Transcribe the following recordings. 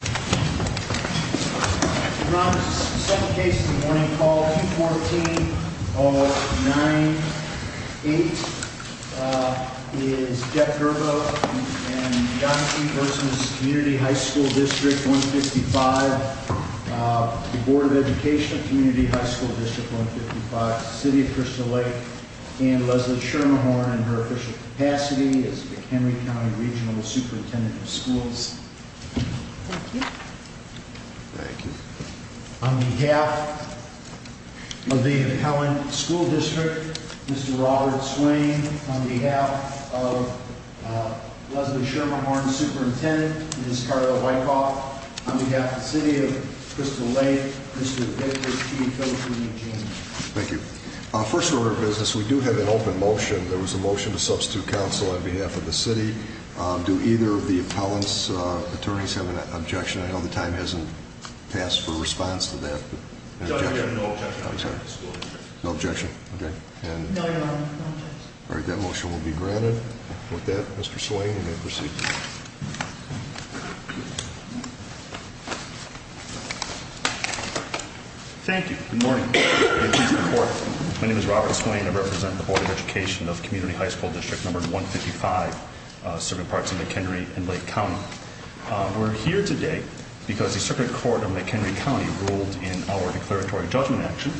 Brown v. Community High School District No. 155 v. Board of Education of Community High School District No. 155 v. City of Crystal Lake and Leslie Schermerhorn in her official capacity as the McHenry County Regional Superintendent of Schools. On behalf of the Appellant School District, Mr. Robert Swain. On behalf of Leslie Schermerhorn, Superintendent, Ms. Carla Wyckoff. On behalf of the City of Crystal Lake, Mr. Victor G. Philipson, and James. Thank you. First order of business, we do have an open motion. There was a motion to substitute counsel on behalf of the City. Do either of the Appellant's attorneys have an objection? I know the time hasn't passed for a response to that. No objection. Okay. That motion will be granted. With that, Mr. Swain, you may proceed. Thank you. Good morning. My name is Robert Swain. I represent the Board of Education of Community High School District No. 155 serving parts of McHenry and Lake County. We're here today because the Circuit Court of McHenry County ruled in our declaratory judgment action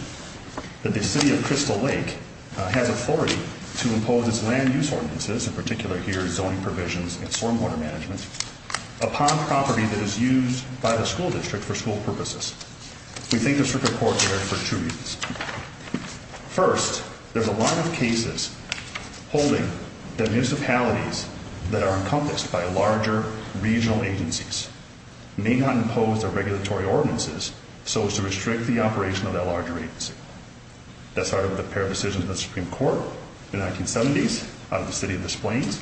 that the City of Crystal Lake has authority to impose its land use ordinances, in particular here zoning provisions and stormwater management, upon property that is used by the school district for school purposes. We think the Circuit Court did it for two reasons. First, there's a lot of cases holding that municipalities that are encompassed by larger regional agencies may not impose their regulatory ordinances so as to restrict the operation of that larger agency. That started with a pair of decisions in the Supreme Court in the 1970s out of the City of Des Plaines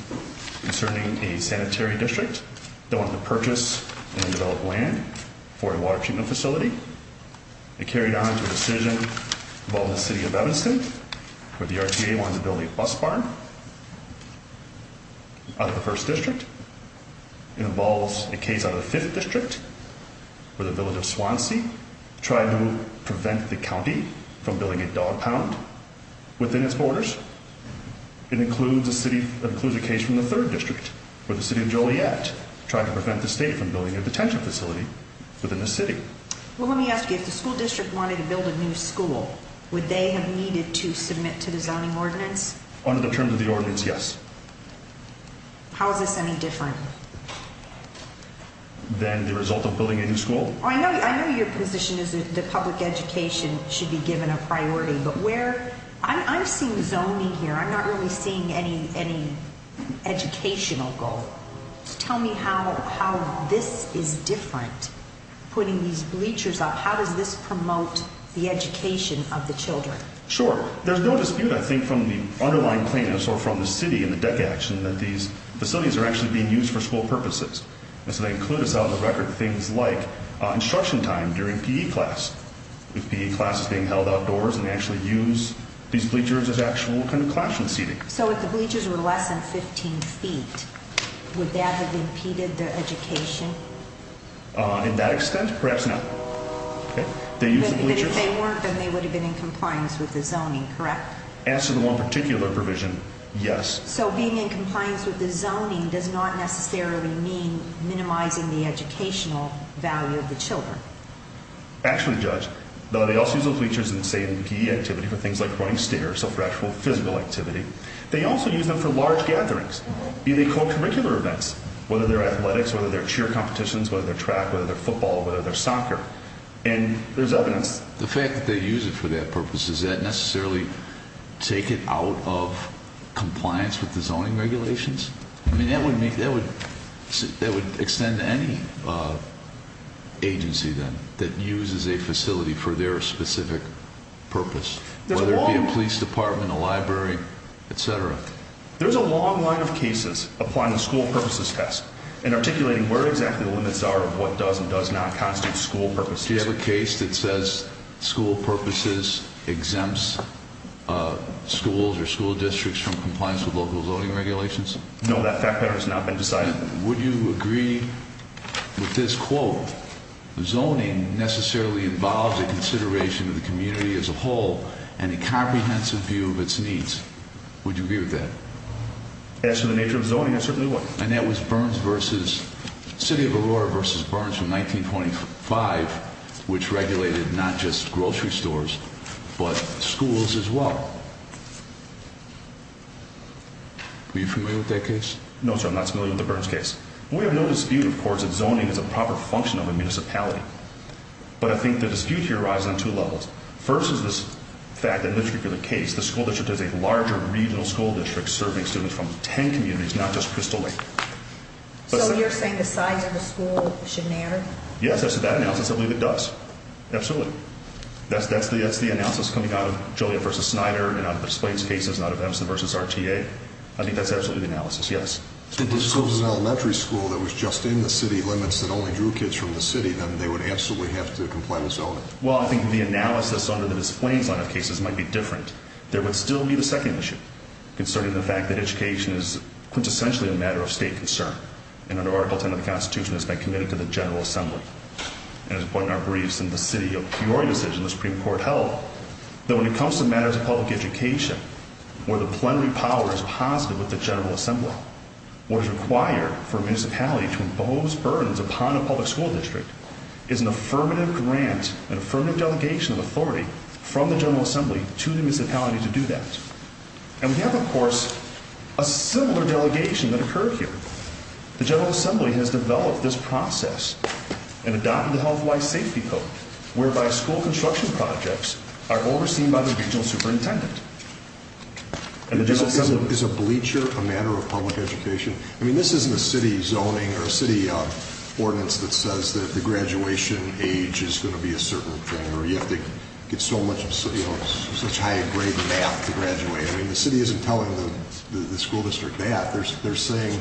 concerning a sanitary district that wanted to purchase and develop land for a water treatment facility. It carried on to a decision involving the City of Evanston where the RTA wanted to build a bus barn out of the 1st District. It involves a case out of the 5th District where the Village of Swansea tried to prevent the county from building a dog pound within its borders. It includes a case from the 3rd District where the City of Joliet tried to prevent the state from building a detention facility within the city. Let me ask you, if the school district wanted to build a new school, would they have needed to submit to the zoning ordinance? Under the terms of the ordinance, yes. How is this any different? Than the result of building a new school? I know your position is that public education should be given a priority, but I'm seeing zoning here. I'm not really seeing any educational goal. Tell me how this is different, putting these bleachers up. How does this promote the education of the children? Sure. There's no dispute, I think, from the underlying plaintiffs or from the city and the DECA action that these facilities are actually being used for school purposes. They include, as of the record, things like instruction time during PE class, if PE class is being held outdoors and they actually use these bleachers as actual classroom seating. So if the bleachers were less than 15 feet, would that have impeded their education? In that extent, perhaps not. But if they weren't, then they would have been in compliance with the zoning, correct? As to the one particular provision, yes. So being in compliance with the zoning does not necessarily mean minimizing the educational value of the children? Actually, Judge, they also use those bleachers in, say, PE activity for things like running stairs, so for actual physical activity. They also use them for large gatherings, even co-curricular events, whether they're athletics, whether they're cheer competitions, whether they're track, whether they're football, whether they're soccer. And there's evidence. The fact that they use it for that purpose, does that necessarily take it out of compliance with the zoning regulations? I mean, that would extend to any agency then that uses a facility for their specific purpose, whether it be a police department, a library, etc. There's a long line of cases applying the school purposes test and articulating where exactly the limits are of what does and does not constitute school purposes. Do you have a case that says school purposes exempts schools or school districts from compliance with local zoning regulations? No, that fact pattern has not been decided. Would you agree with this quote, that zoning necessarily involves a consideration of the community as a whole and a comprehensive view of its needs? Would you agree with that? As to the nature of zoning, I certainly would. And that was City of Aurora v. Burns in 1925, which regulated not just grocery stores, but schools as well. Are you familiar with that case? No, sir, I'm not familiar with the Burns case. We have no dispute, of course, that zoning is a proper function of a municipality. But I think the dispute here arises on two levels. First is this fact that in this particular case, the school district is a larger regional school district serving students from 10 communities, not just Crystal Lake. So you're saying the size of the school should narrow? Yes, that's the bad analysis. I believe it does. Absolutely. That's the analysis coming out of Joliet v. Snyder and out of the Splains cases and out of Empson v. RTA. I think that's absolutely the analysis, yes. So if this was an elementary school that was just in the city limits that only drew kids from the city, then they would absolutely have to comply with zoning? Well, I think the analysis under the Splains line of cases might be different. There would still be the second issue concerning the fact that education is quintessentially a matter of state concern. And under Article 10 of the Constitution, it's been committed to the General Assembly. And as one of our briefs in the City of Peoria decision, the Supreme Court held that when it comes to matters of public education, where the plenary power is positive with the General Assembly, what is required for a municipality to impose burdens upon a public school district is an affirmative grant, an affirmative delegation of authority from the General Assembly to the municipality to do that. And we have, of course, a similar delegation that occurred here. The General Assembly has developed this process and adopted the Health Wise Safety Code, whereby school construction projects are overseen by the regional superintendent. Is a bleacher a matter of public education? I mean, this isn't a city zoning or a city ordinance that says that the graduation age is going to be a certain thing or you have to get such high-grade math to graduate. I mean, the city isn't telling the school district that. They're saying,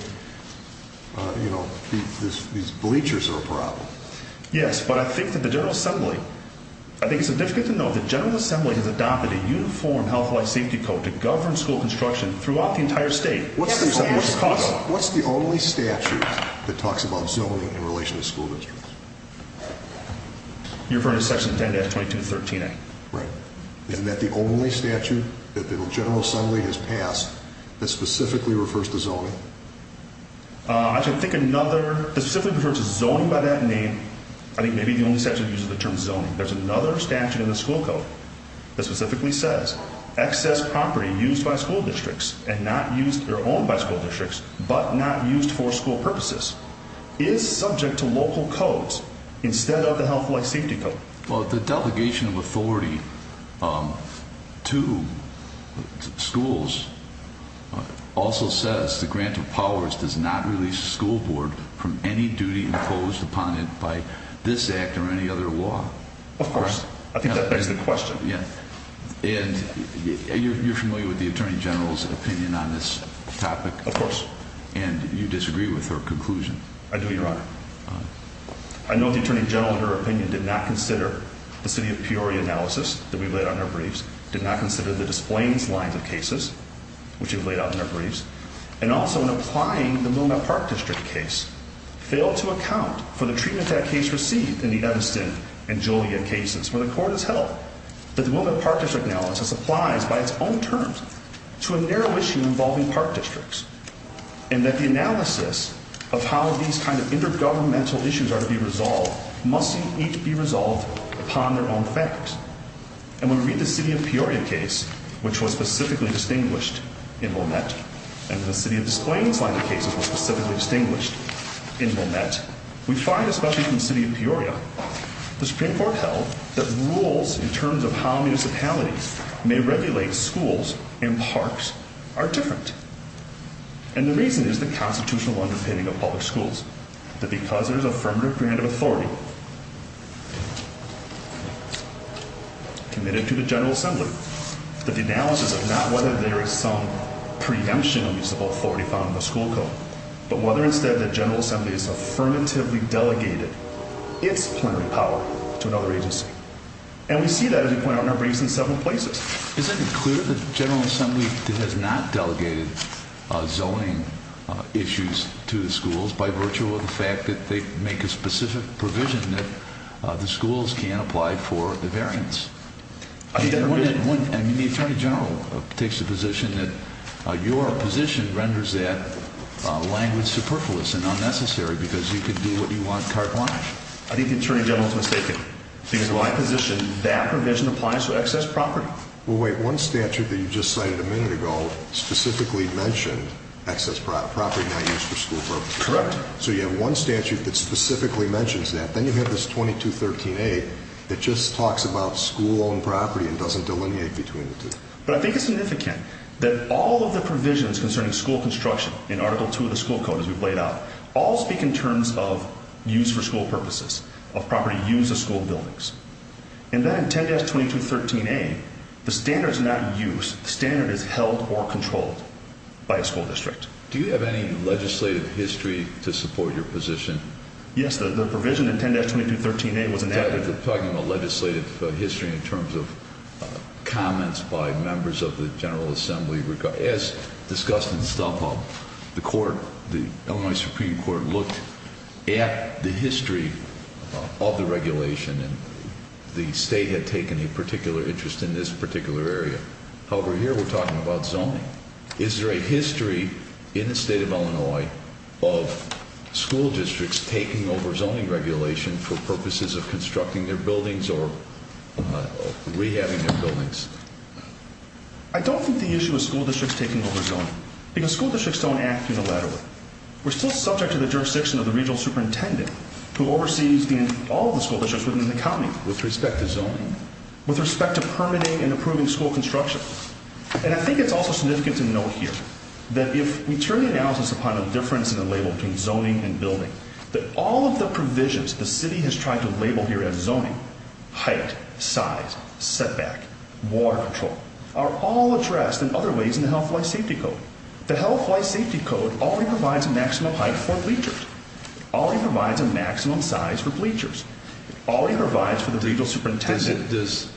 you know, these bleachers are a problem. Yes, but I think that the General Assembly, I think it's significant to note that the General Assembly has adopted a uniform Health Wise Safety Code to govern school construction throughout the entire state. What's the only statute that talks about zoning in relation to school districts? You're referring to Section 10-22-13-A. Right. Isn't that the only statute that the General Assembly has passed that specifically refers to zoning? I think another, specifically refers to zoning by that name. I think maybe the only statute that uses the term zoning. There's another statute in the school code that specifically says excess property used by school districts and not used or owned by school districts but not used for school purposes is subject to local codes instead of the Health Wise Safety Code. Well, the delegation of authority to schools also says the grant of powers does not release the school board from any duty imposed upon it by this act or any other law. Of course. I think that begs the question. And you're familiar with the Attorney General's opinion on this topic? Of course. And you disagree with her conclusion? I do, Your Honor. I know the Attorney General, in her opinion, did not consider the City of Peoria analysis that we laid out in our briefs, did not consider the Des Plaines lines of cases, which we've laid out in our briefs, and also in applying the Willamette Park District case, failed to account for the treatment that case received in the Edison and Julia cases where the court has held that the Willamette Park District analysis applies by its own terms to a narrow issue involving park districts and that the analysis of how these kind of intergovernmental issues are to be resolved must each be resolved upon their own facts. And when we read the City of Peoria case, which was specifically distinguished in Willamette, and the City of Des Plaines line of cases was specifically distinguished in Willamette, we find, especially from the City of Peoria, the Supreme Court held that rules in terms of how municipalities may regulate schools and parks are different. And the reason is the constitutional underpinning of public schools, that because there's affirmative grant of authority committed to the General Assembly, that the analysis of not whether there is some preemption of municipal authority found in the school code, but whether instead the General Assembly has affirmatively delegated its plenary power to another agency. And we see that, as we point out in our briefs, in several places. Is it clear that the General Assembly has not delegated zoning issues to the schools by virtue of the fact that they make a specific provision that the schools can't apply for the variance? I mean, the Attorney General takes the position that your position renders that language superfluous and unnecessary because you can do what you want carte blanche. I think the Attorney General is mistaken. Because in my position, that provision applies to excess property. Well, wait, one statute that you just cited a minute ago specifically mentioned excess property not used for school purposes. Correct. So you have one statute that specifically mentions that. Then you have this 2213A that just talks about school-owned property and doesn't delineate between the two. But I think it's significant that all of the provisions concerning school construction in Article 2 of the school code, as we've laid out, all speak in terms of use for school purposes, of property used in school buildings. And then in 10-2213A, the standard is not used. The standard is held or controlled by a school district. Do you have any legislative history to support your position? Yes, the provision in 10-2213A was enacted. We're talking about legislative history in terms of comments by members of the General Assembly. As discussed in Stolfo, the court, the Illinois Supreme Court, looked at the history of the regulation. And the state had taken a particular interest in this particular area. However, here we're talking about zoning. Is there a history in the state of Illinois of school districts taking over zoning regulation for purposes of constructing their buildings or rehabbing their buildings? I don't think the issue is school districts taking over zoning. Because school districts don't act unilaterally. We're still subject to the jurisdiction of the regional superintendent who oversees all of the school districts within the county. With respect to zoning? With respect to permitting and approving school construction. And I think it's also significant to note here that if we turn the analysis upon a difference in the label between zoning and building, that all of the provisions the city has tried to label here as zoning, height, size, setback, water control, are all addressed in other ways in the Health, Life, Safety Code. The Health, Life, Safety Code only provides a maximum height for bleachers. It only provides a maximum size for bleachers. It only provides for the regional superintendent.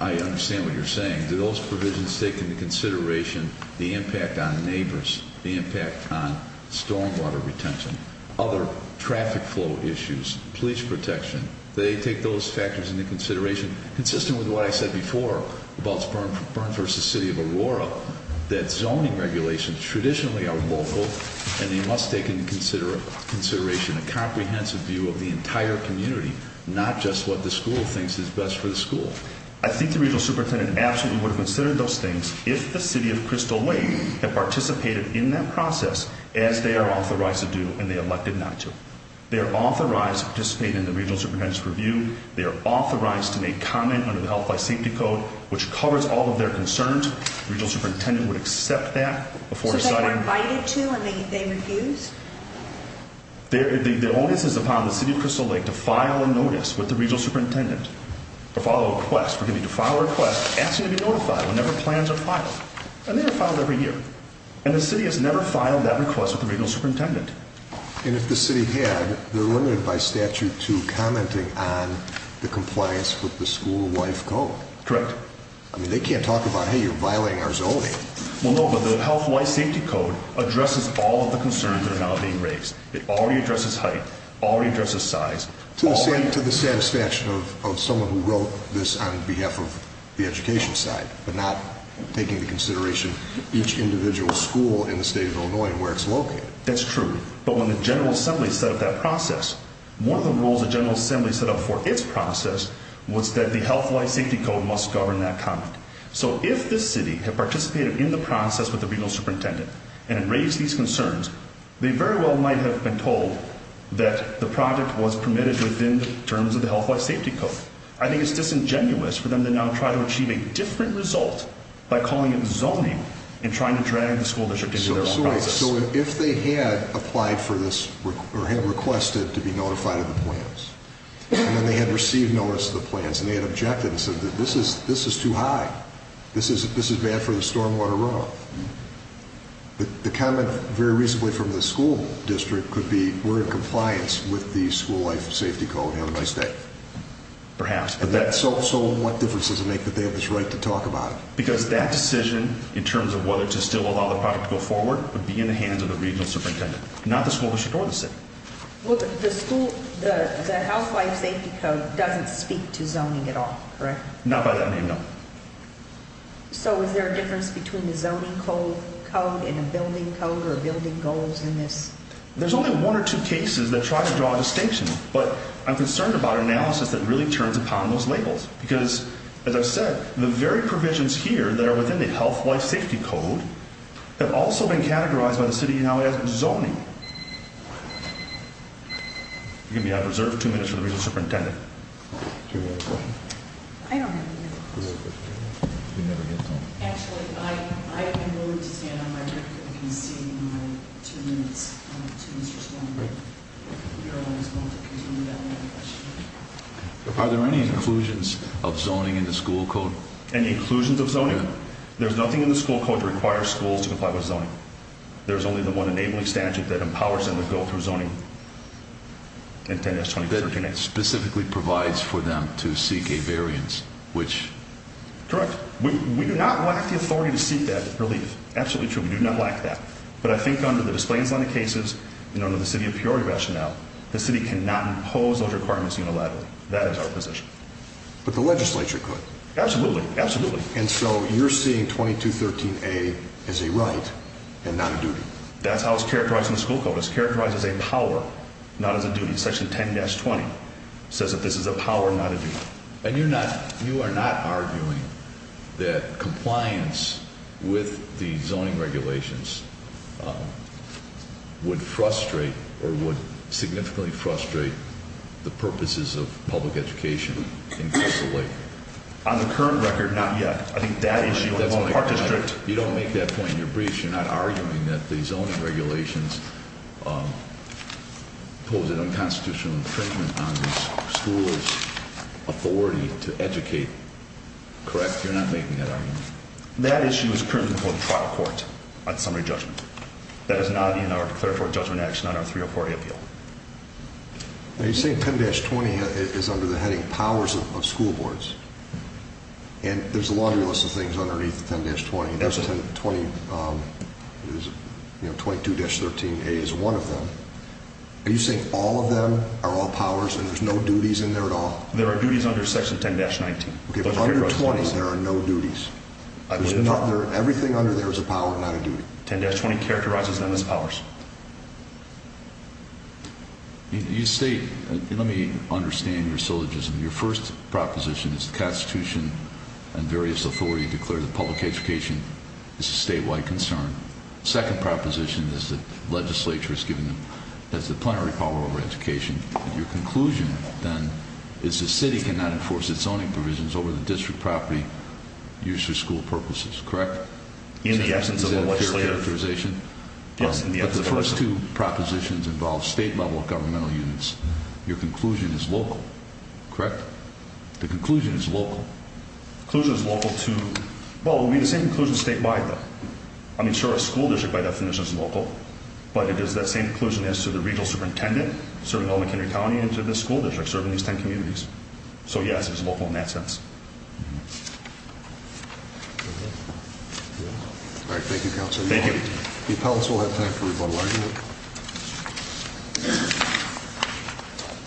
I understand what you're saying. Do those provisions take into consideration the impact on neighbors, the impact on stormwater retention, other traffic flow issues, bleach protection? They take those factors into consideration, consistent with what I said before about Burns v. City of Aurora, that zoning regulations traditionally are local and they must take into consideration a comprehensive view of the entire community, not just what the school thinks is best for the school. I think the regional superintendent absolutely would have considered those things if the City of Crystal Lake had participated in that process, as they are authorized to do and they elected not to. They are authorized to participate in the regional superintendent's review. They are authorized to make comment under the Health, Life, Safety Code, which covers all of their concerns. The regional superintendent would accept that before deciding. So they were invited to and they refused? The onus is upon the City of Crystal Lake to file a request, asking to be notified whenever plans are filed. And they are filed every year. And the City has never filed that request with the regional superintendent. And if the City had, they're limited by statute to commenting on the compliance with the school life code. Correct. I mean, they can't talk about, hey, you're violating our zoning. Well, no, but the Health, Life, Safety Code addresses all of the concerns that are now being raised. It already addresses height. It already addresses size. To the satisfaction of someone who wrote this on behalf of the education side, but not taking into consideration each individual school in the state of Illinois and where it's located. That's true. But when the General Assembly set up that process, one of the rules the General Assembly set up for its process was that the Health, Life, Safety Code must govern that comment. So if this city had participated in the process with the regional superintendent and had raised these concerns, they very well might have been told that the project was permitted within the terms of the Health, Life, Safety Code. I think it's disingenuous for them to now try to achieve a different result by calling it zoning and trying to drag the school district into their own process. So if they had applied for this, or had requested to be notified of the plans, and then they had received notice of the plans, and they had objected and said that this is too high, this is bad for the stormwater runoff, the comment very recently from the school district could be, we're in compliance with the School, Life, Safety Code and have a nice day. Perhaps. So what difference does it make that they have this right to talk about it? Because that decision, in terms of whether to still allow the project to go forward, would be in the hands of the regional superintendent, not the school district or the city. The Health, Life, Safety Code doesn't speak to zoning at all, correct? Not by that name, no. So is there a difference between the zoning code and a building code or building goals in this? There's only one or two cases that try to draw a distinction, but I'm concerned about analysis that really turns upon those labels. Because, as I've said, the very provisions here that are within the Health, Life, Safety Code have also been categorized by the city now as zoning. We're going to be out of reserve for two minutes for the regional superintendent. Do you have a question? I don't have a question. Do you have a question? Actually, I'm willing to stand on my roof if you can see my two minutes to Mr. Stoner. You're always welcome to do that. Are there any inclusions of zoning in the school code? Any inclusions of zoning? There's nothing in the school code that requires schools to comply with zoning. There's only the one enabling statute that empowers them to go through zoning. It specifically provides for them to seek a variance, which— Correct. We do not lack the authority to seek that relief. Absolutely true. We do not lack that. But I think under the display and design of cases and under the city of Peoria rationale, the city cannot impose those requirements unilaterally. That is our position. But the legislature could. Absolutely. Absolutely. And so you're seeing 2213A as a right and not a duty. That's how it's characterized in the school code. It's characterized as a power, not as a duty. Section 10-20 says that this is a power, not a duty. And you're not—you are not arguing that compliance with the zoning regulations would frustrate or would significantly frustrate the purposes of public education in Crystal Lake? On the current record, not yet. I think that issue— You don't make that point in your brief. You're not arguing that the zoning regulations impose an unconstitutional infringement on the school's authority to educate. Correct? You're not making that argument. That issue is currently before the trial court on summary judgment. That is not in our declaratory judgment action on our 304A appeal. Now you're saying 10-20 is under the heading powers of school boards. And there's a laundry list of things underneath 10-20. And 22-13A is one of them. Are you saying all of them are all powers and there's no duties in there at all? There are duties under section 10-19. Okay, but under 20 there are no duties. Everything under there is a power, not a duty. 10-20 characterizes them as powers. You state—let me understand your syllogism. Your first proposition is the Constitution and various authorities declare that public education is a statewide concern. The second proposition is that the legislature has given them—has the plenary power over education. Your conclusion, then, is the city cannot enforce its zoning provisions over the district property used for school purposes. Correct? In the absence of a legislative— Is that a clear characterization? Yes, in the absence of a legislative— But the first two propositions involve state-level governmental units. Your conclusion is local. Correct? The conclusion is local. The conclusion is local to—well, it would be the same conclusion statewide, though. I mean, sure, a school district, by definition, is local. But it is that same conclusion as to the regional superintendent serving Elementary County and to this school district serving these 10 communities. So, yes, it's local in that sense. All right, thank you, Counsel. Thank you. The appellants will have time for rebuttal argument.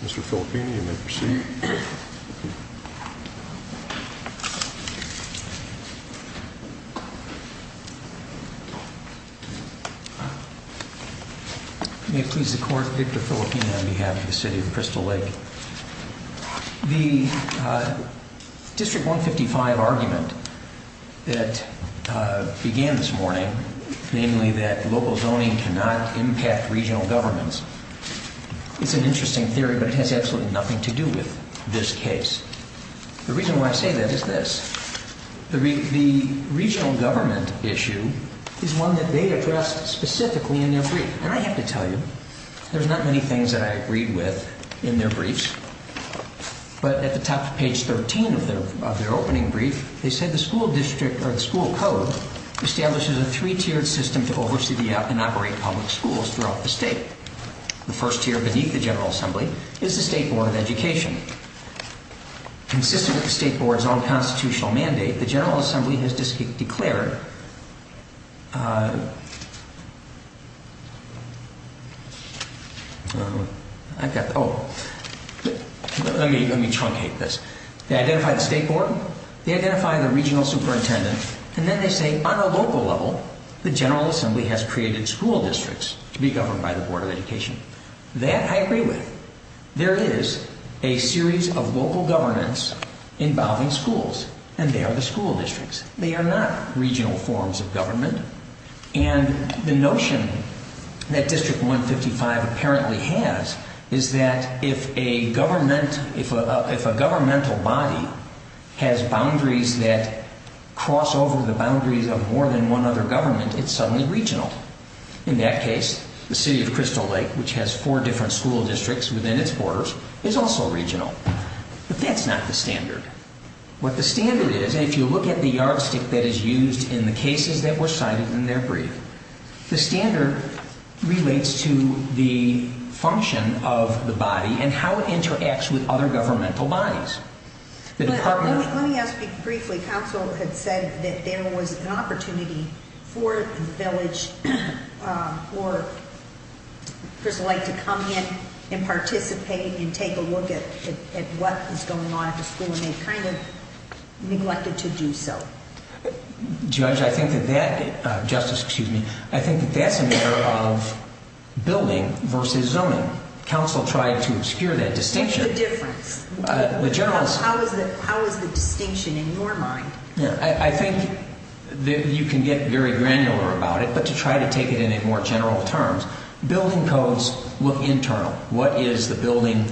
Mr. Filippini, you may proceed. May it please the Court, Victor Filippini on behalf of the City of Crystal Lake. The District 155 argument that began this morning, namely that local zoning cannot impact regional governments, is an interesting theory, but it has absolutely nothing to do with this case. The reason why I say that is this. The regional government issue is one that they addressed specifically in their brief. And I have to tell you, there's not many things that I agreed with in their briefs, but at the top of page 13 of their opening brief, they said the school district, or the school code, establishes a three-tiered system to oversee and operate public schools throughout the state. The first tier beneath the General Assembly is the State Board of Education. Consistent with the State Board's own constitutional mandate, the General Assembly has declared... Oh, let me truncate this. They identify the State Board, they identify the regional superintendent, and then they say, on a local level, the General Assembly has created school districts to be governed by the Board of Education. That I agree with. There is a series of local governments involving schools, and they are the school districts. They are not regional forms of government. And the notion that District 155 apparently has is that if a governmental body has boundaries that cross over the boundaries of more than one other government, it's suddenly regional. In that case, the city of Crystal Lake, which has four different school districts within its borders, is also regional. But that's not the standard. What the standard is, if you look at the yardstick that is used in the cases that were cited in their brief, the standard relates to the function of the body and how it interacts with other governmental bodies. Let me ask you briefly. Counsel had said that there was an opportunity for the village for Crystal Lake to come in and participate and take a look at what was going on at the school, and they kind of neglected to do so. Judge, I think that that's a matter of building versus zoning. Counsel tried to obscure that distinction. What's the difference? How is the distinction in your mind? I think you can get very granular about it, but to try to take it in more general terms, building codes look internal. What is the building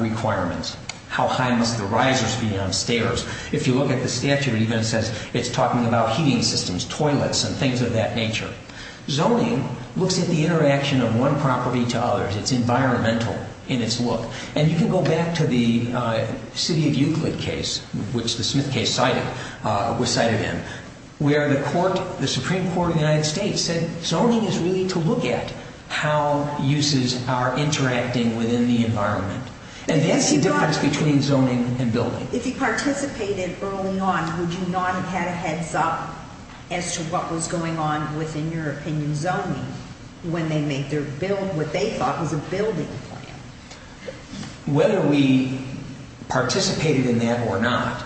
requirement? How high must the risers be on stairs? If you look at the statute, it even says it's talking about heating systems, toilets, and things of that nature. Zoning looks at the interaction of one property to others. It's environmental in its look. And you can go back to the City of Euclid case, which the Smith case was cited in, where the Supreme Court of the United States said zoning is really to look at how uses are interacting within the environment. And that's the difference between zoning and building. If he participated early on, would you not have had a heads-up as to what was going on with, in your opinion, zoning, when they made their bill, what they thought was a building plan? Whether we participated in that or not,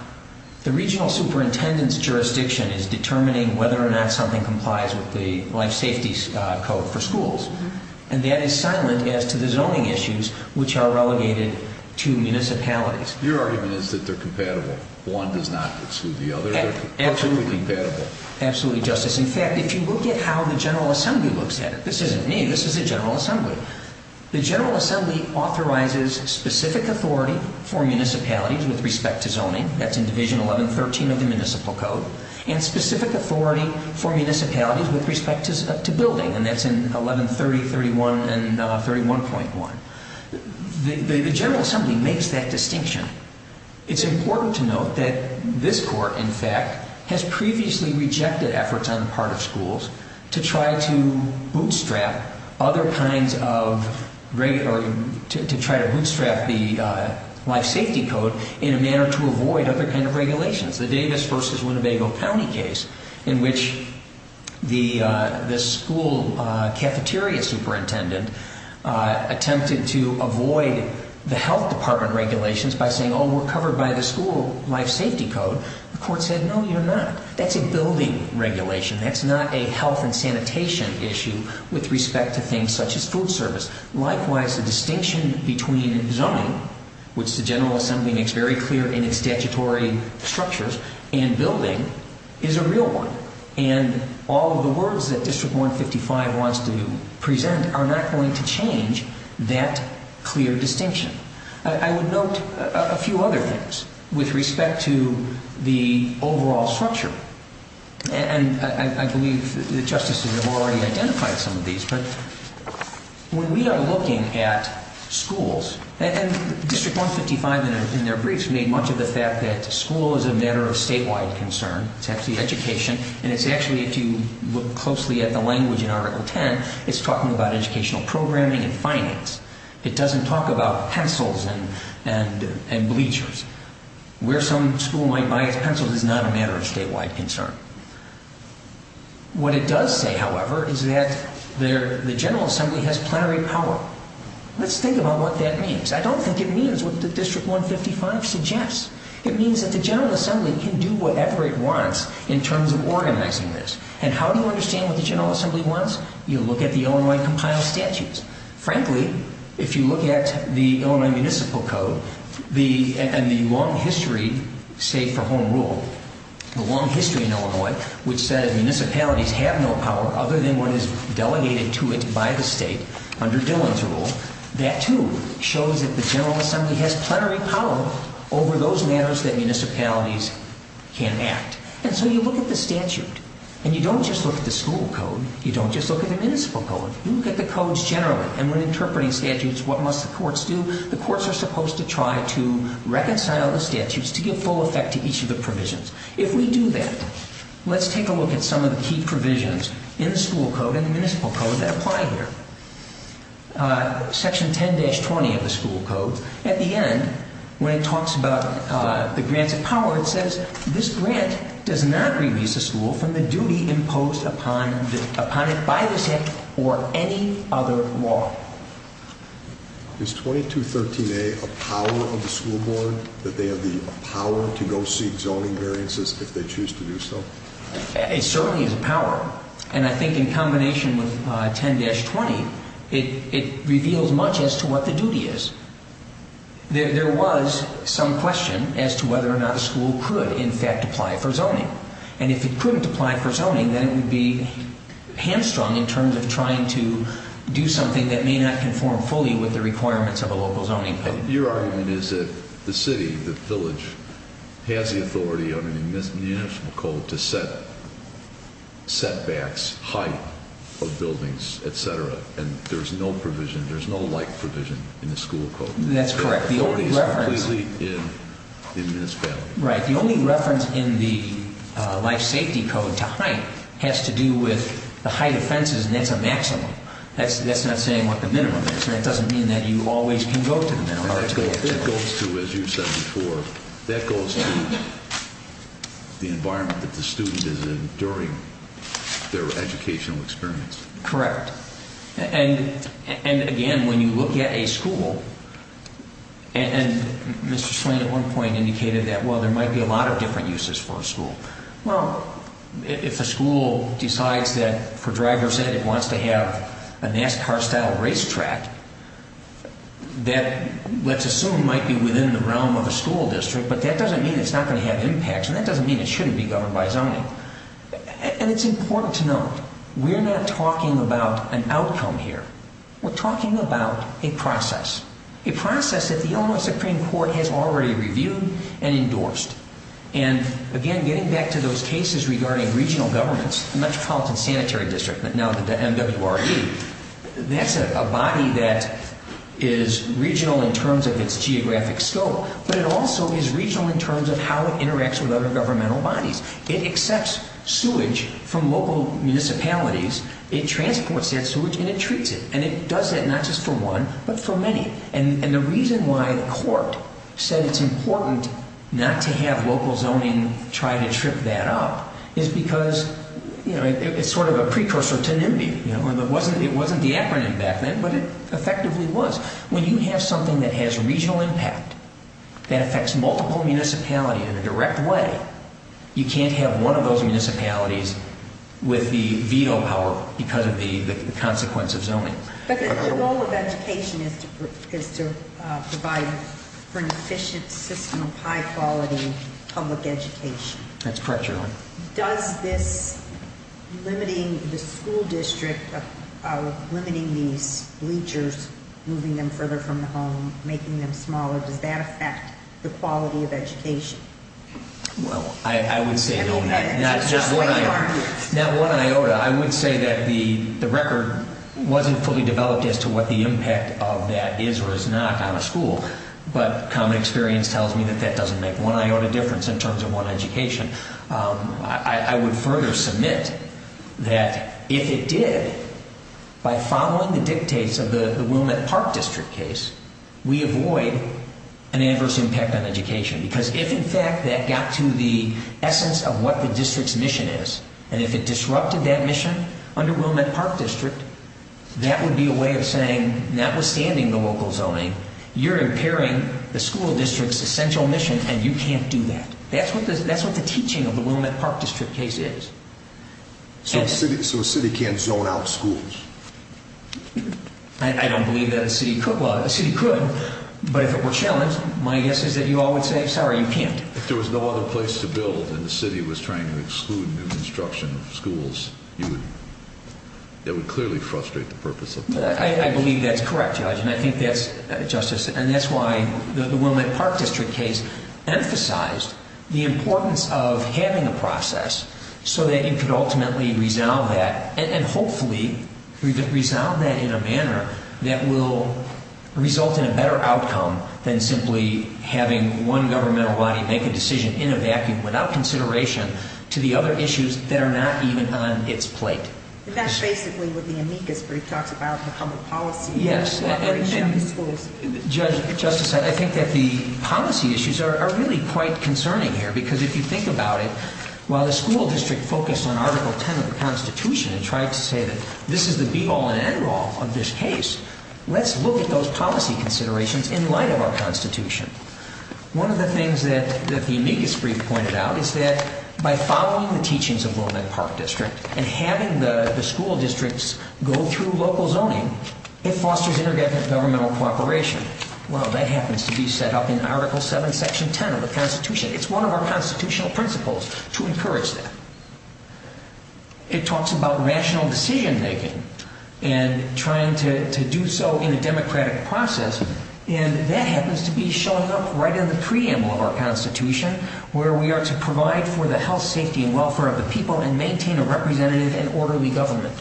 the regional superintendent's jurisdiction is determining whether or not something complies with the life safety code for schools. And that is silent as to the zoning issues, which are relegated to municipalities. Your argument is that they're compatible. One does not exclude the other. Absolutely. Absolutely compatible. Absolutely, Justice. In fact, if you look at how the General Assembly looks at it, this isn't me. This is the General Assembly. The General Assembly authorizes specific authority for municipalities with respect to zoning. That's in Division 11.13 of the Municipal Code. And specific authority for municipalities with respect to building. And that's in 11.30, 31, and 31.1. The General Assembly makes that distinction. It's important to note that this Court, in fact, has previously rejected efforts on the part of schools to try to bootstrap the life safety code in a manner to avoid other kinds of regulations. The Davis v. Winnebago County case in which the school cafeteria superintendent attempted to avoid the health department regulations by saying, oh, we're covered by the school life safety code. The Court said, no, you're not. That's a building regulation. That's not a health and sanitation issue with respect to things such as food service. Likewise, the distinction between zoning, which the General Assembly makes very clear in its statutory structures, and building is a real one. And all of the words that District 155 wants to present are not going to change that clear distinction. I would note a few other things with respect to the overall structure. And I believe the Justices have already identified some of these. But when we are looking at schools, and District 155, in their briefs, made much of the fact that school is a matter of statewide concern. It's actually education. And it's actually, if you look closely at the language in Article 10, it's talking about educational programming and finance. It doesn't talk about pencils and bleachers. Where some school might buy its pencils is not a matter of statewide concern. What it does say, however, is that the General Assembly has plenary power. Let's think about what that means. I don't think it means what District 155 suggests. It means that the General Assembly can do whatever it wants in terms of organizing this. And how do you understand what the General Assembly wants? You look at the Illinois compiled statutes. Frankly, if you look at the Illinois Municipal Code and the long history, say, for home rule, the long history in Illinois, which said municipalities have no power other than what is delegated to it by the state under Dillon's rule, that, too, shows that the General Assembly has plenary power over those matters that municipalities can act. And so you look at the statute. And you don't just look at the school code. You don't just look at the municipal code. You look at the codes generally. And when interpreting statutes, what must the courts do? The courts are supposed to try to reconcile the statutes to give full effect to each of the provisions. If we do that, let's take a look at some of the key provisions in the school code and the municipal code that apply here. Section 10-20 of the school code, at the end, when it talks about the grants of power, it says this grant does not release a school from the duty imposed upon it by the state or any other law. Is 2213A a power of the school board, that they have the power to go seek zoning variances if they choose to do so? It certainly is a power. And I think in combination with 10-20, it reveals much as to what the duty is. There was some question as to whether or not a school could, in fact, apply for zoning. And if it couldn't apply for zoning, then it would be hamstrung in terms of trying to do something that may not conform fully with the requirements of a local zoning code. Your argument is that the city, the village, has the authority under the municipal code to set setbacks, height of buildings, et cetera, and there's no provision, there's no like provision in the school code. That's correct. The authority is completely in the municipality. Right. The only reference in the life safety code to height has to do with the height of fences, and that's a maximum. That's not saying what the minimum is. That doesn't mean that you always can go to the minimum. It goes to, as you said before, that goes to the environment that the student is in during their educational experience. Correct. And, again, when you look at a school, and Mr. Swain at one point indicated that, well, there might be a lot of different uses for a school. Well, if a school decides that, for driver's ed, it wants to have a NASCAR-style racetrack, that, let's assume, might be within the realm of a school district, but that doesn't mean it's not going to have impacts, and that doesn't mean it shouldn't be governed by zoning. And it's important to note, we're not talking about an outcome here. We're talking about a process, a process that the Illinois Supreme Court has already reviewed and endorsed. And, again, getting back to those cases regarding regional governments, the Metropolitan Sanitary District, now the MWRE, that's a body that is regional in terms of its geographic scope, but it also is regional in terms of how it interacts with other governmental bodies. It accepts sewage from local municipalities. It transports that sewage, and it treats it, and it does it not just for one, but for many. And the reason why the court said it's important not to have local zoning try to trip that up is because, you know, it's sort of a precursor to NIMBY. It wasn't the acronym back then, but it effectively was. When you have something that has regional impact that affects multiple municipalities in a direct way, you can't have one of those municipalities with the veto power because of the consequence of zoning. But the goal of education is to provide for an efficient system of high-quality public education. That's correct, Your Honor. Does this limiting the school district, limiting these bleachers, moving them further from the home, making them smaller, Well, I would say no, not one iota. I would say that the record wasn't fully developed as to what the impact of that is or is not on a school, but common experience tells me that that doesn't make one iota difference in terms of one education. I would further submit that if it did, by following the dictates of the Willamette Park District case, we avoid an adverse impact on education because if, in fact, that got to the essence of what the district's mission is and if it disrupted that mission under Willamette Park District, that would be a way of saying, notwithstanding the local zoning, you're impairing the school district's essential mission and you can't do that. That's what the teaching of the Willamette Park District case is. So a city can't zone out schools? I don't believe that a city could. Well, a city could, but if it were challenged, my guess is that you all would say, sorry, you can't. If there was no other place to build and the city was trying to exclude new construction of schools, that would clearly frustrate the purpose of the case. I believe that's correct, Judge, and I think that's, Justice, and that's why the Willamette Park District case emphasized the importance of having a process so that you could ultimately resolve that and hopefully resolve that in a manner that will result in a better outcome than simply having one governmental body make a decision in a vacuum without consideration to the other issues that are not even on its plate. That's basically what the amicus brief talks about, the public policy. Yes, and, Judge, Justice, I think that the policy issues are really quite concerning here because if you think about it, while the school district focused on Article 10 of the Constitution and tried to say that this is the be-all and end-all of this case, let's look at those policy considerations in light of our Constitution. One of the things that the amicus brief pointed out is that by following the teachings of Willamette Park District and having the school districts go through local zoning, it fosters intergovernmental cooperation. Well, that happens to be set up in Article 7, Section 10 of the Constitution. It's one of our constitutional principles to encourage that. It talks about rational decision-making and trying to do so in a democratic process, and that happens to be showing up right in the preamble of our Constitution where we are to provide for the health, safety, and welfare of the people and maintain a representative and orderly government.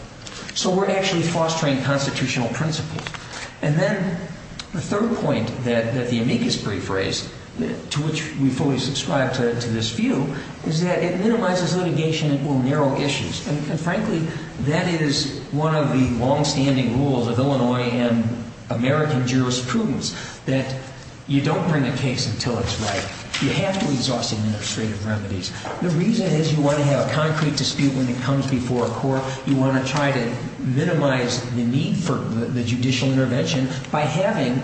So we're actually fostering constitutional principles. And then the third point that the amicus brief raised, to which we fully subscribe to this view, is that it minimizes litigation and will narrow issues. And frankly, that is one of the longstanding rules of Illinois and American jurisprudence that you don't bring a case until it's right. You have to exhaust administrative remedies. The reason is you want to have a concrete dispute when it comes before a court. You want to try to minimize the need for the judicial intervention by having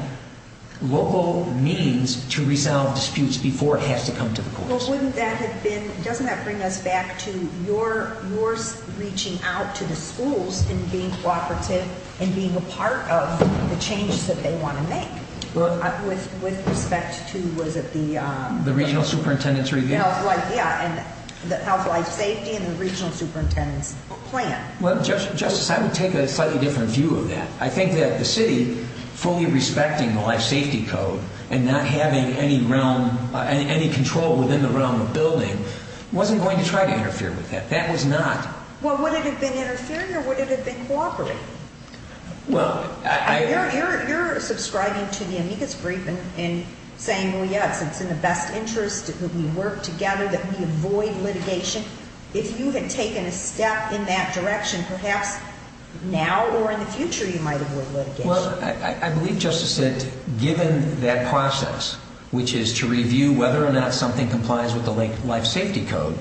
local means to resolve disputes before it has to come to the courts. Well, wouldn't that have been—doesn't that bring us back to your reaching out to the schools and being cooperative and being a part of the changes that they want to make? With respect to, what is it, the— The Regional Superintendent's Review. Yeah, and the Health, Life, Safety, and the Regional Superintendent's Plan. Well, Justice, I would take a slightly different view of that. I think that the city fully respecting the Life Safety Code and not having any realm—any control within the realm of building wasn't going to try to interfere with that. That was not— Well, would it have been interfering or would it have been cooperating? Well, I— You're subscribing to the amicus brief and saying, well, yes, it's in the best interest that we work together, that we avoid litigation. If you had taken a step in that direction, perhaps now or in the future you might avoid litigation. Well, I believe, Justice, that given that process, which is to review whether or not something complies with the Life Safety Code,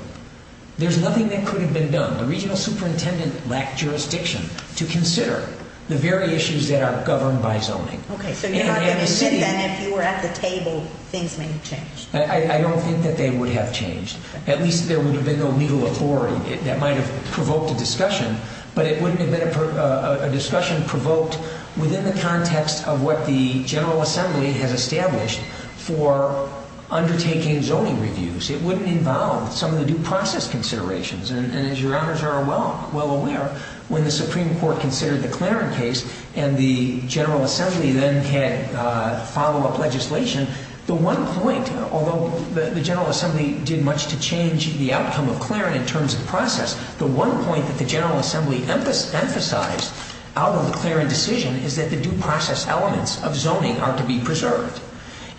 there's nothing that could have been done. The Regional Superintendent lacked jurisdiction to consider the very issues that are governed by zoning. Okay, so you're not going to say, then, if you were at the table, things may have changed. I don't think that they would have changed. At least there would have been no legal authority. That might have provoked a discussion, but it wouldn't have been a discussion provoked within the context of what the General Assembly has established for undertaking zoning reviews. It wouldn't involve some of the due process considerations. And as Your Honors are well aware, when the Supreme Court considered the Claren case and the General Assembly then had follow-up legislation, the one point, although the General Assembly did much to change the outcome of Claren in terms of process, the one point that the General Assembly emphasized out of the Claren decision is that the due process elements of zoning are to be preserved.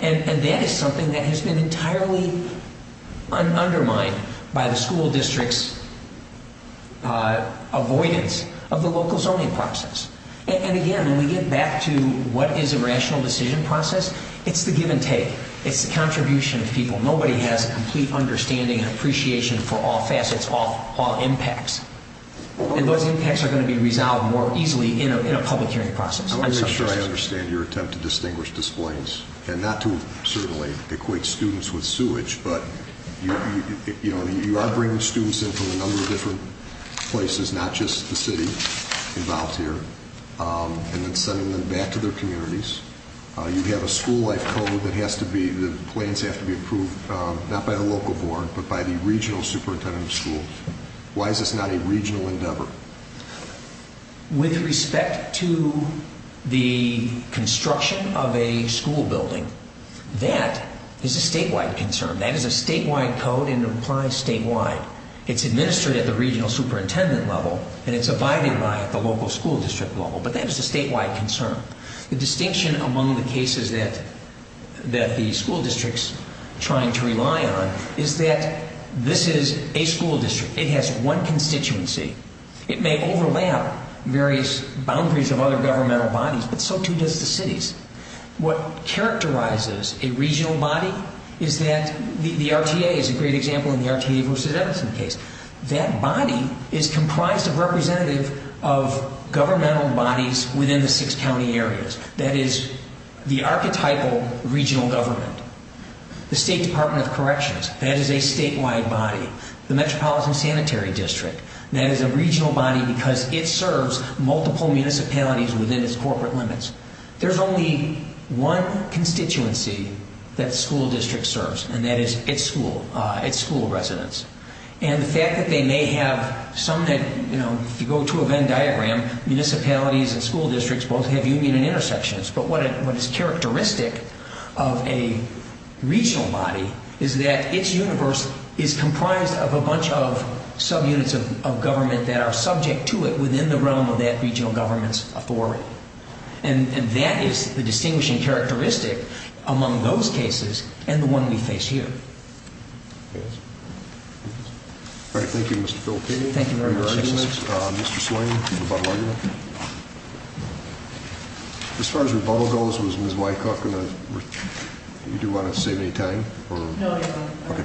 And that is something that has been entirely undermined by the school district's avoidance of the local zoning process. And again, when we get back to what is a rational decision process, it's the give and take. It's the contribution of people. Nobody has a complete understanding and appreciation for all facets, all impacts. And those impacts are going to be resolved more easily in a public hearing process. I want to make sure I understand your attempt to distinguish displays and not to certainly equate students with sewage, but you are bringing students in from a number of different places, not just the city involved here, and then sending them back to their communities. You have a school life code that has to be, the plans have to be approved, not by a local board, but by the regional superintendent of schools. Why is this not a regional endeavor? With respect to the construction of a school building, that is a statewide concern. That is a statewide code, and it applies statewide. It's administered at the regional superintendent level, and it's abided by at the local school district level, but that is a statewide concern. The distinction among the cases that the school district is trying to rely on is that this is a school district. It has one constituency. It may overlap various boundaries of other governmental bodies, but so too does the cities. What characterizes a regional body is that the RTA is a great example in the RTA versus Edison case. That body is comprised of representative of governmental bodies within the six county areas. That is the archetypal regional government. The State Department of Corrections, that is a statewide body. The Metropolitan Sanitary District, that is a regional body because it serves multiple municipalities within its corporate limits. There's only one constituency that the school district serves, and that is its school residents. The fact that they may have some that, if you go to a Venn diagram, municipalities and school districts both have union and intersections, but what is characteristic of a regional body is that its universe is comprised of a bunch of subunits of government that are subject to it and that is the distinguishing characteristic among those cases and the one we face here. All right. Thank you, Mr. Phil. Thank you very much. Mr. Swain, rebuttal argument? As far as rebuttal goes, was Ms. Wycock going to, do you want to save any time? No, no. Thank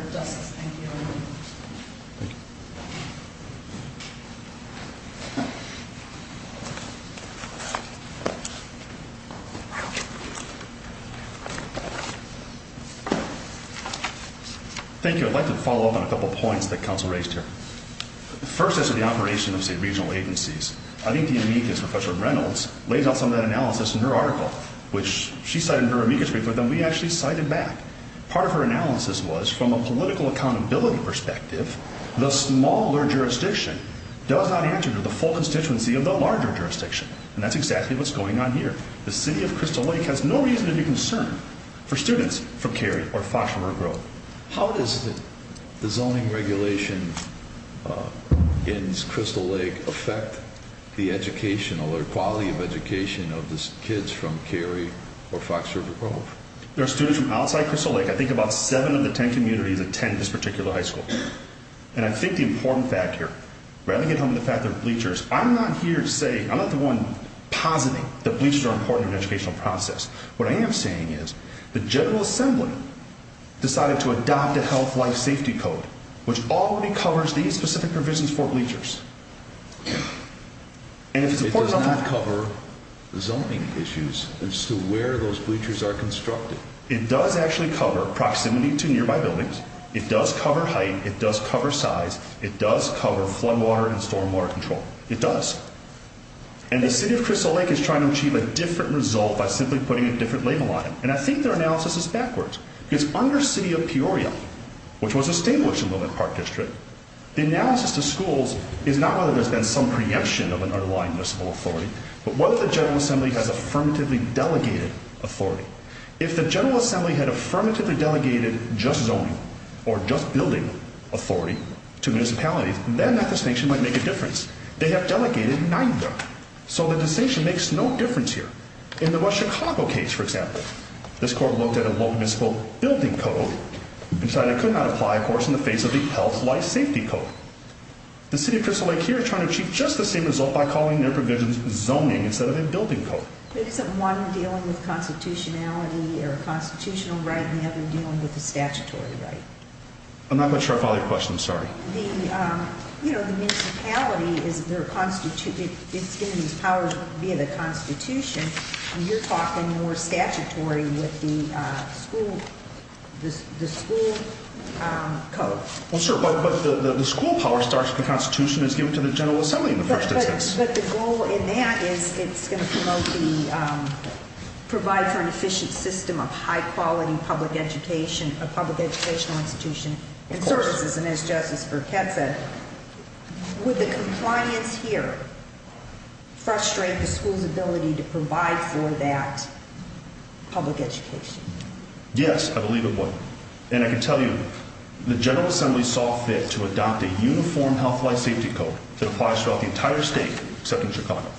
you. Thank you. I'd like to follow up on a couple points that counsel raised here. First is the operation of state regional agencies. I think the amicus, Professor Reynolds, lays out some of that analysis in her article, which she cited in her amicus brief, but then we actually cited back. Part of her analysis was from a political accountability perspective, the smaller jurisdiction does not answer to the full constituency of the larger jurisdiction, and that's exactly what's going on here. The city of Crystal Lake has no reason to be concerned for students from Cary or Fox River Grove. How does the zoning regulation in Crystal Lake affect the educational or quality of education of the kids from Cary or Fox River Grove? There are students from outside Crystal Lake. I think about seven of the ten communities attend this particular high school. And I think the important fact here, rather than get hung on the fact that they're bleachers, I'm not here to say, I'm not the one positing that bleachers are important in the educational process. What I am saying is the General Assembly decided to adopt a Health Life Safety Code, which already covers these specific provisions for bleachers. It does not cover zoning issues as to where those bleachers are constructed. It does actually cover proximity to nearby buildings. It does cover height. It does cover size. It does cover flood water and storm water control. It does. And the city of Crystal Lake is trying to achieve a different result by simply putting a different label on it. And I think their analysis is backwards. Because under city of Peoria, which was established in Willamette Park District, the analysis to schools is not whether there's been some preemption of an underlying municipal authority, but whether the General Assembly has affirmatively delegated authority. If the General Assembly had affirmatively delegated just zoning or just building authority to municipalities, then that distinction might make a difference. They have delegated neither. So the distinction makes no difference here. In the West Chicago case, for example, this court looked at a local municipal building code and decided it could not apply, of course, in the face of the Health Life Safety Code. The city of Crystal Lake here is trying to achieve just the same result by calling their provisions zoning instead of a building code. But isn't one dealing with constitutionality or a constitutional right and the other dealing with a statutory right? I'm not quite sure I follow your question. I'm sorry. The municipality is their constitution. It's given these powers via the Constitution. And you're talking more statutory with the school code. Well, sure. But the school power starts with the Constitution. The Constitution is given to the General Assembly in the first instance. But the goal in that is it's going to provide for an efficient system of high-quality public education, a public educational institution and services. And as Justice Burkett said, would the compliance here frustrate the school's ability to provide for that public education? Yes, I believe it would. And I can tell you, the General Assembly saw fit to adopt a uniform health-life safety code that applies throughout the entire state except in Chicago.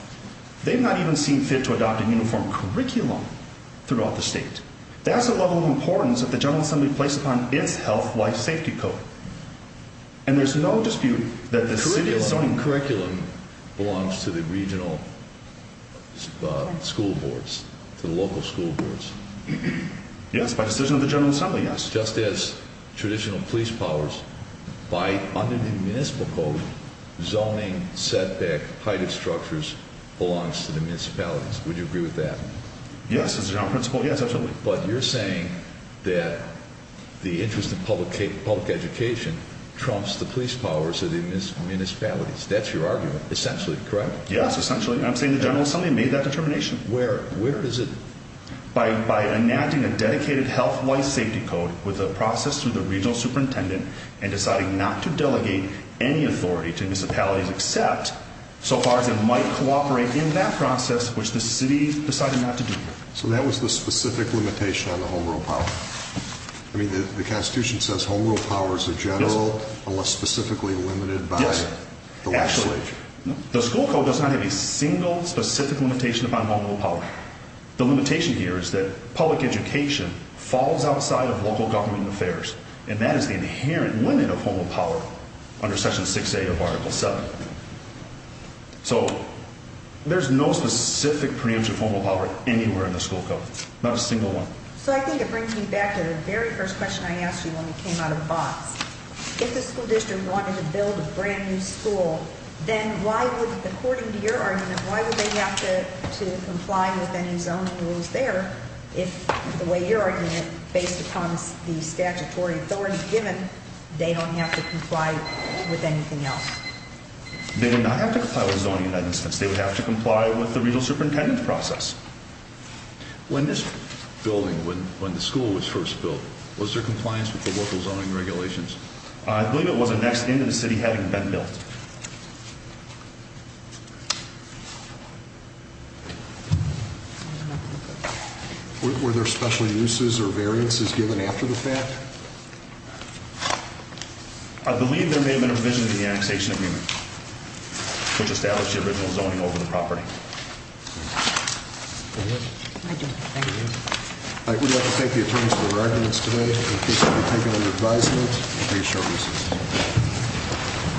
They've not even seen fit to adopt a uniform curriculum throughout the state. That's the level of importance that the General Assembly placed upon its health-life safety code. And there's no dispute that the city's zoning curriculum belongs to the regional school boards, to the local school boards. Yes, by decision of the General Assembly, yes. Just as traditional police powers, by under the municipal code, zoning, setback, height of structures belongs to the municipalities. Would you agree with that? Yes, as a general principle, yes, absolutely. But you're saying that the interest in public education trumps the police powers of the municipalities. That's your argument, essentially, correct? Yes, essentially. I'm saying the General Assembly made that determination. Where is it? By enacting a dedicated health-life safety code with a process through the regional superintendent and deciding not to delegate any authority to municipalities except so far as it might cooperate in that process, which the city decided not to do. So that was the specific limitation on the home rule power. I mean, the Constitution says home rule power is a general unless specifically limited by the legislature. Yes, actually. The school code does not have a single specific limitation upon home rule power. The limitation here is that public education falls outside of local government affairs, and that is the inherent limit of home rule power under Section 6A of Article 7. So there's no specific preemption for home rule power anywhere in the school code, not a single one. So I think it brings me back to the very first question I asked you when we came out of BOTS. If the school district wanted to build a brand-new school, then why would, according to your argument, why would they have to comply with any zoning rules there if, the way you're arguing it, based upon the statutory authority given, they don't have to comply with anything else? They would not have to comply with zoning amendments. They would have to comply with the regional superintendent's process. When this building, when the school was first built, was there compliance with the local zoning regulations? I believe it was annexed into the city having been built. Were there special uses or variances given after the fact? I believe there may have been a revision to the annexation agreement which established the original zoning over the property. I would like to thank the attorneys for their arguments today and in case you would like to make an advisement, please show your assistance.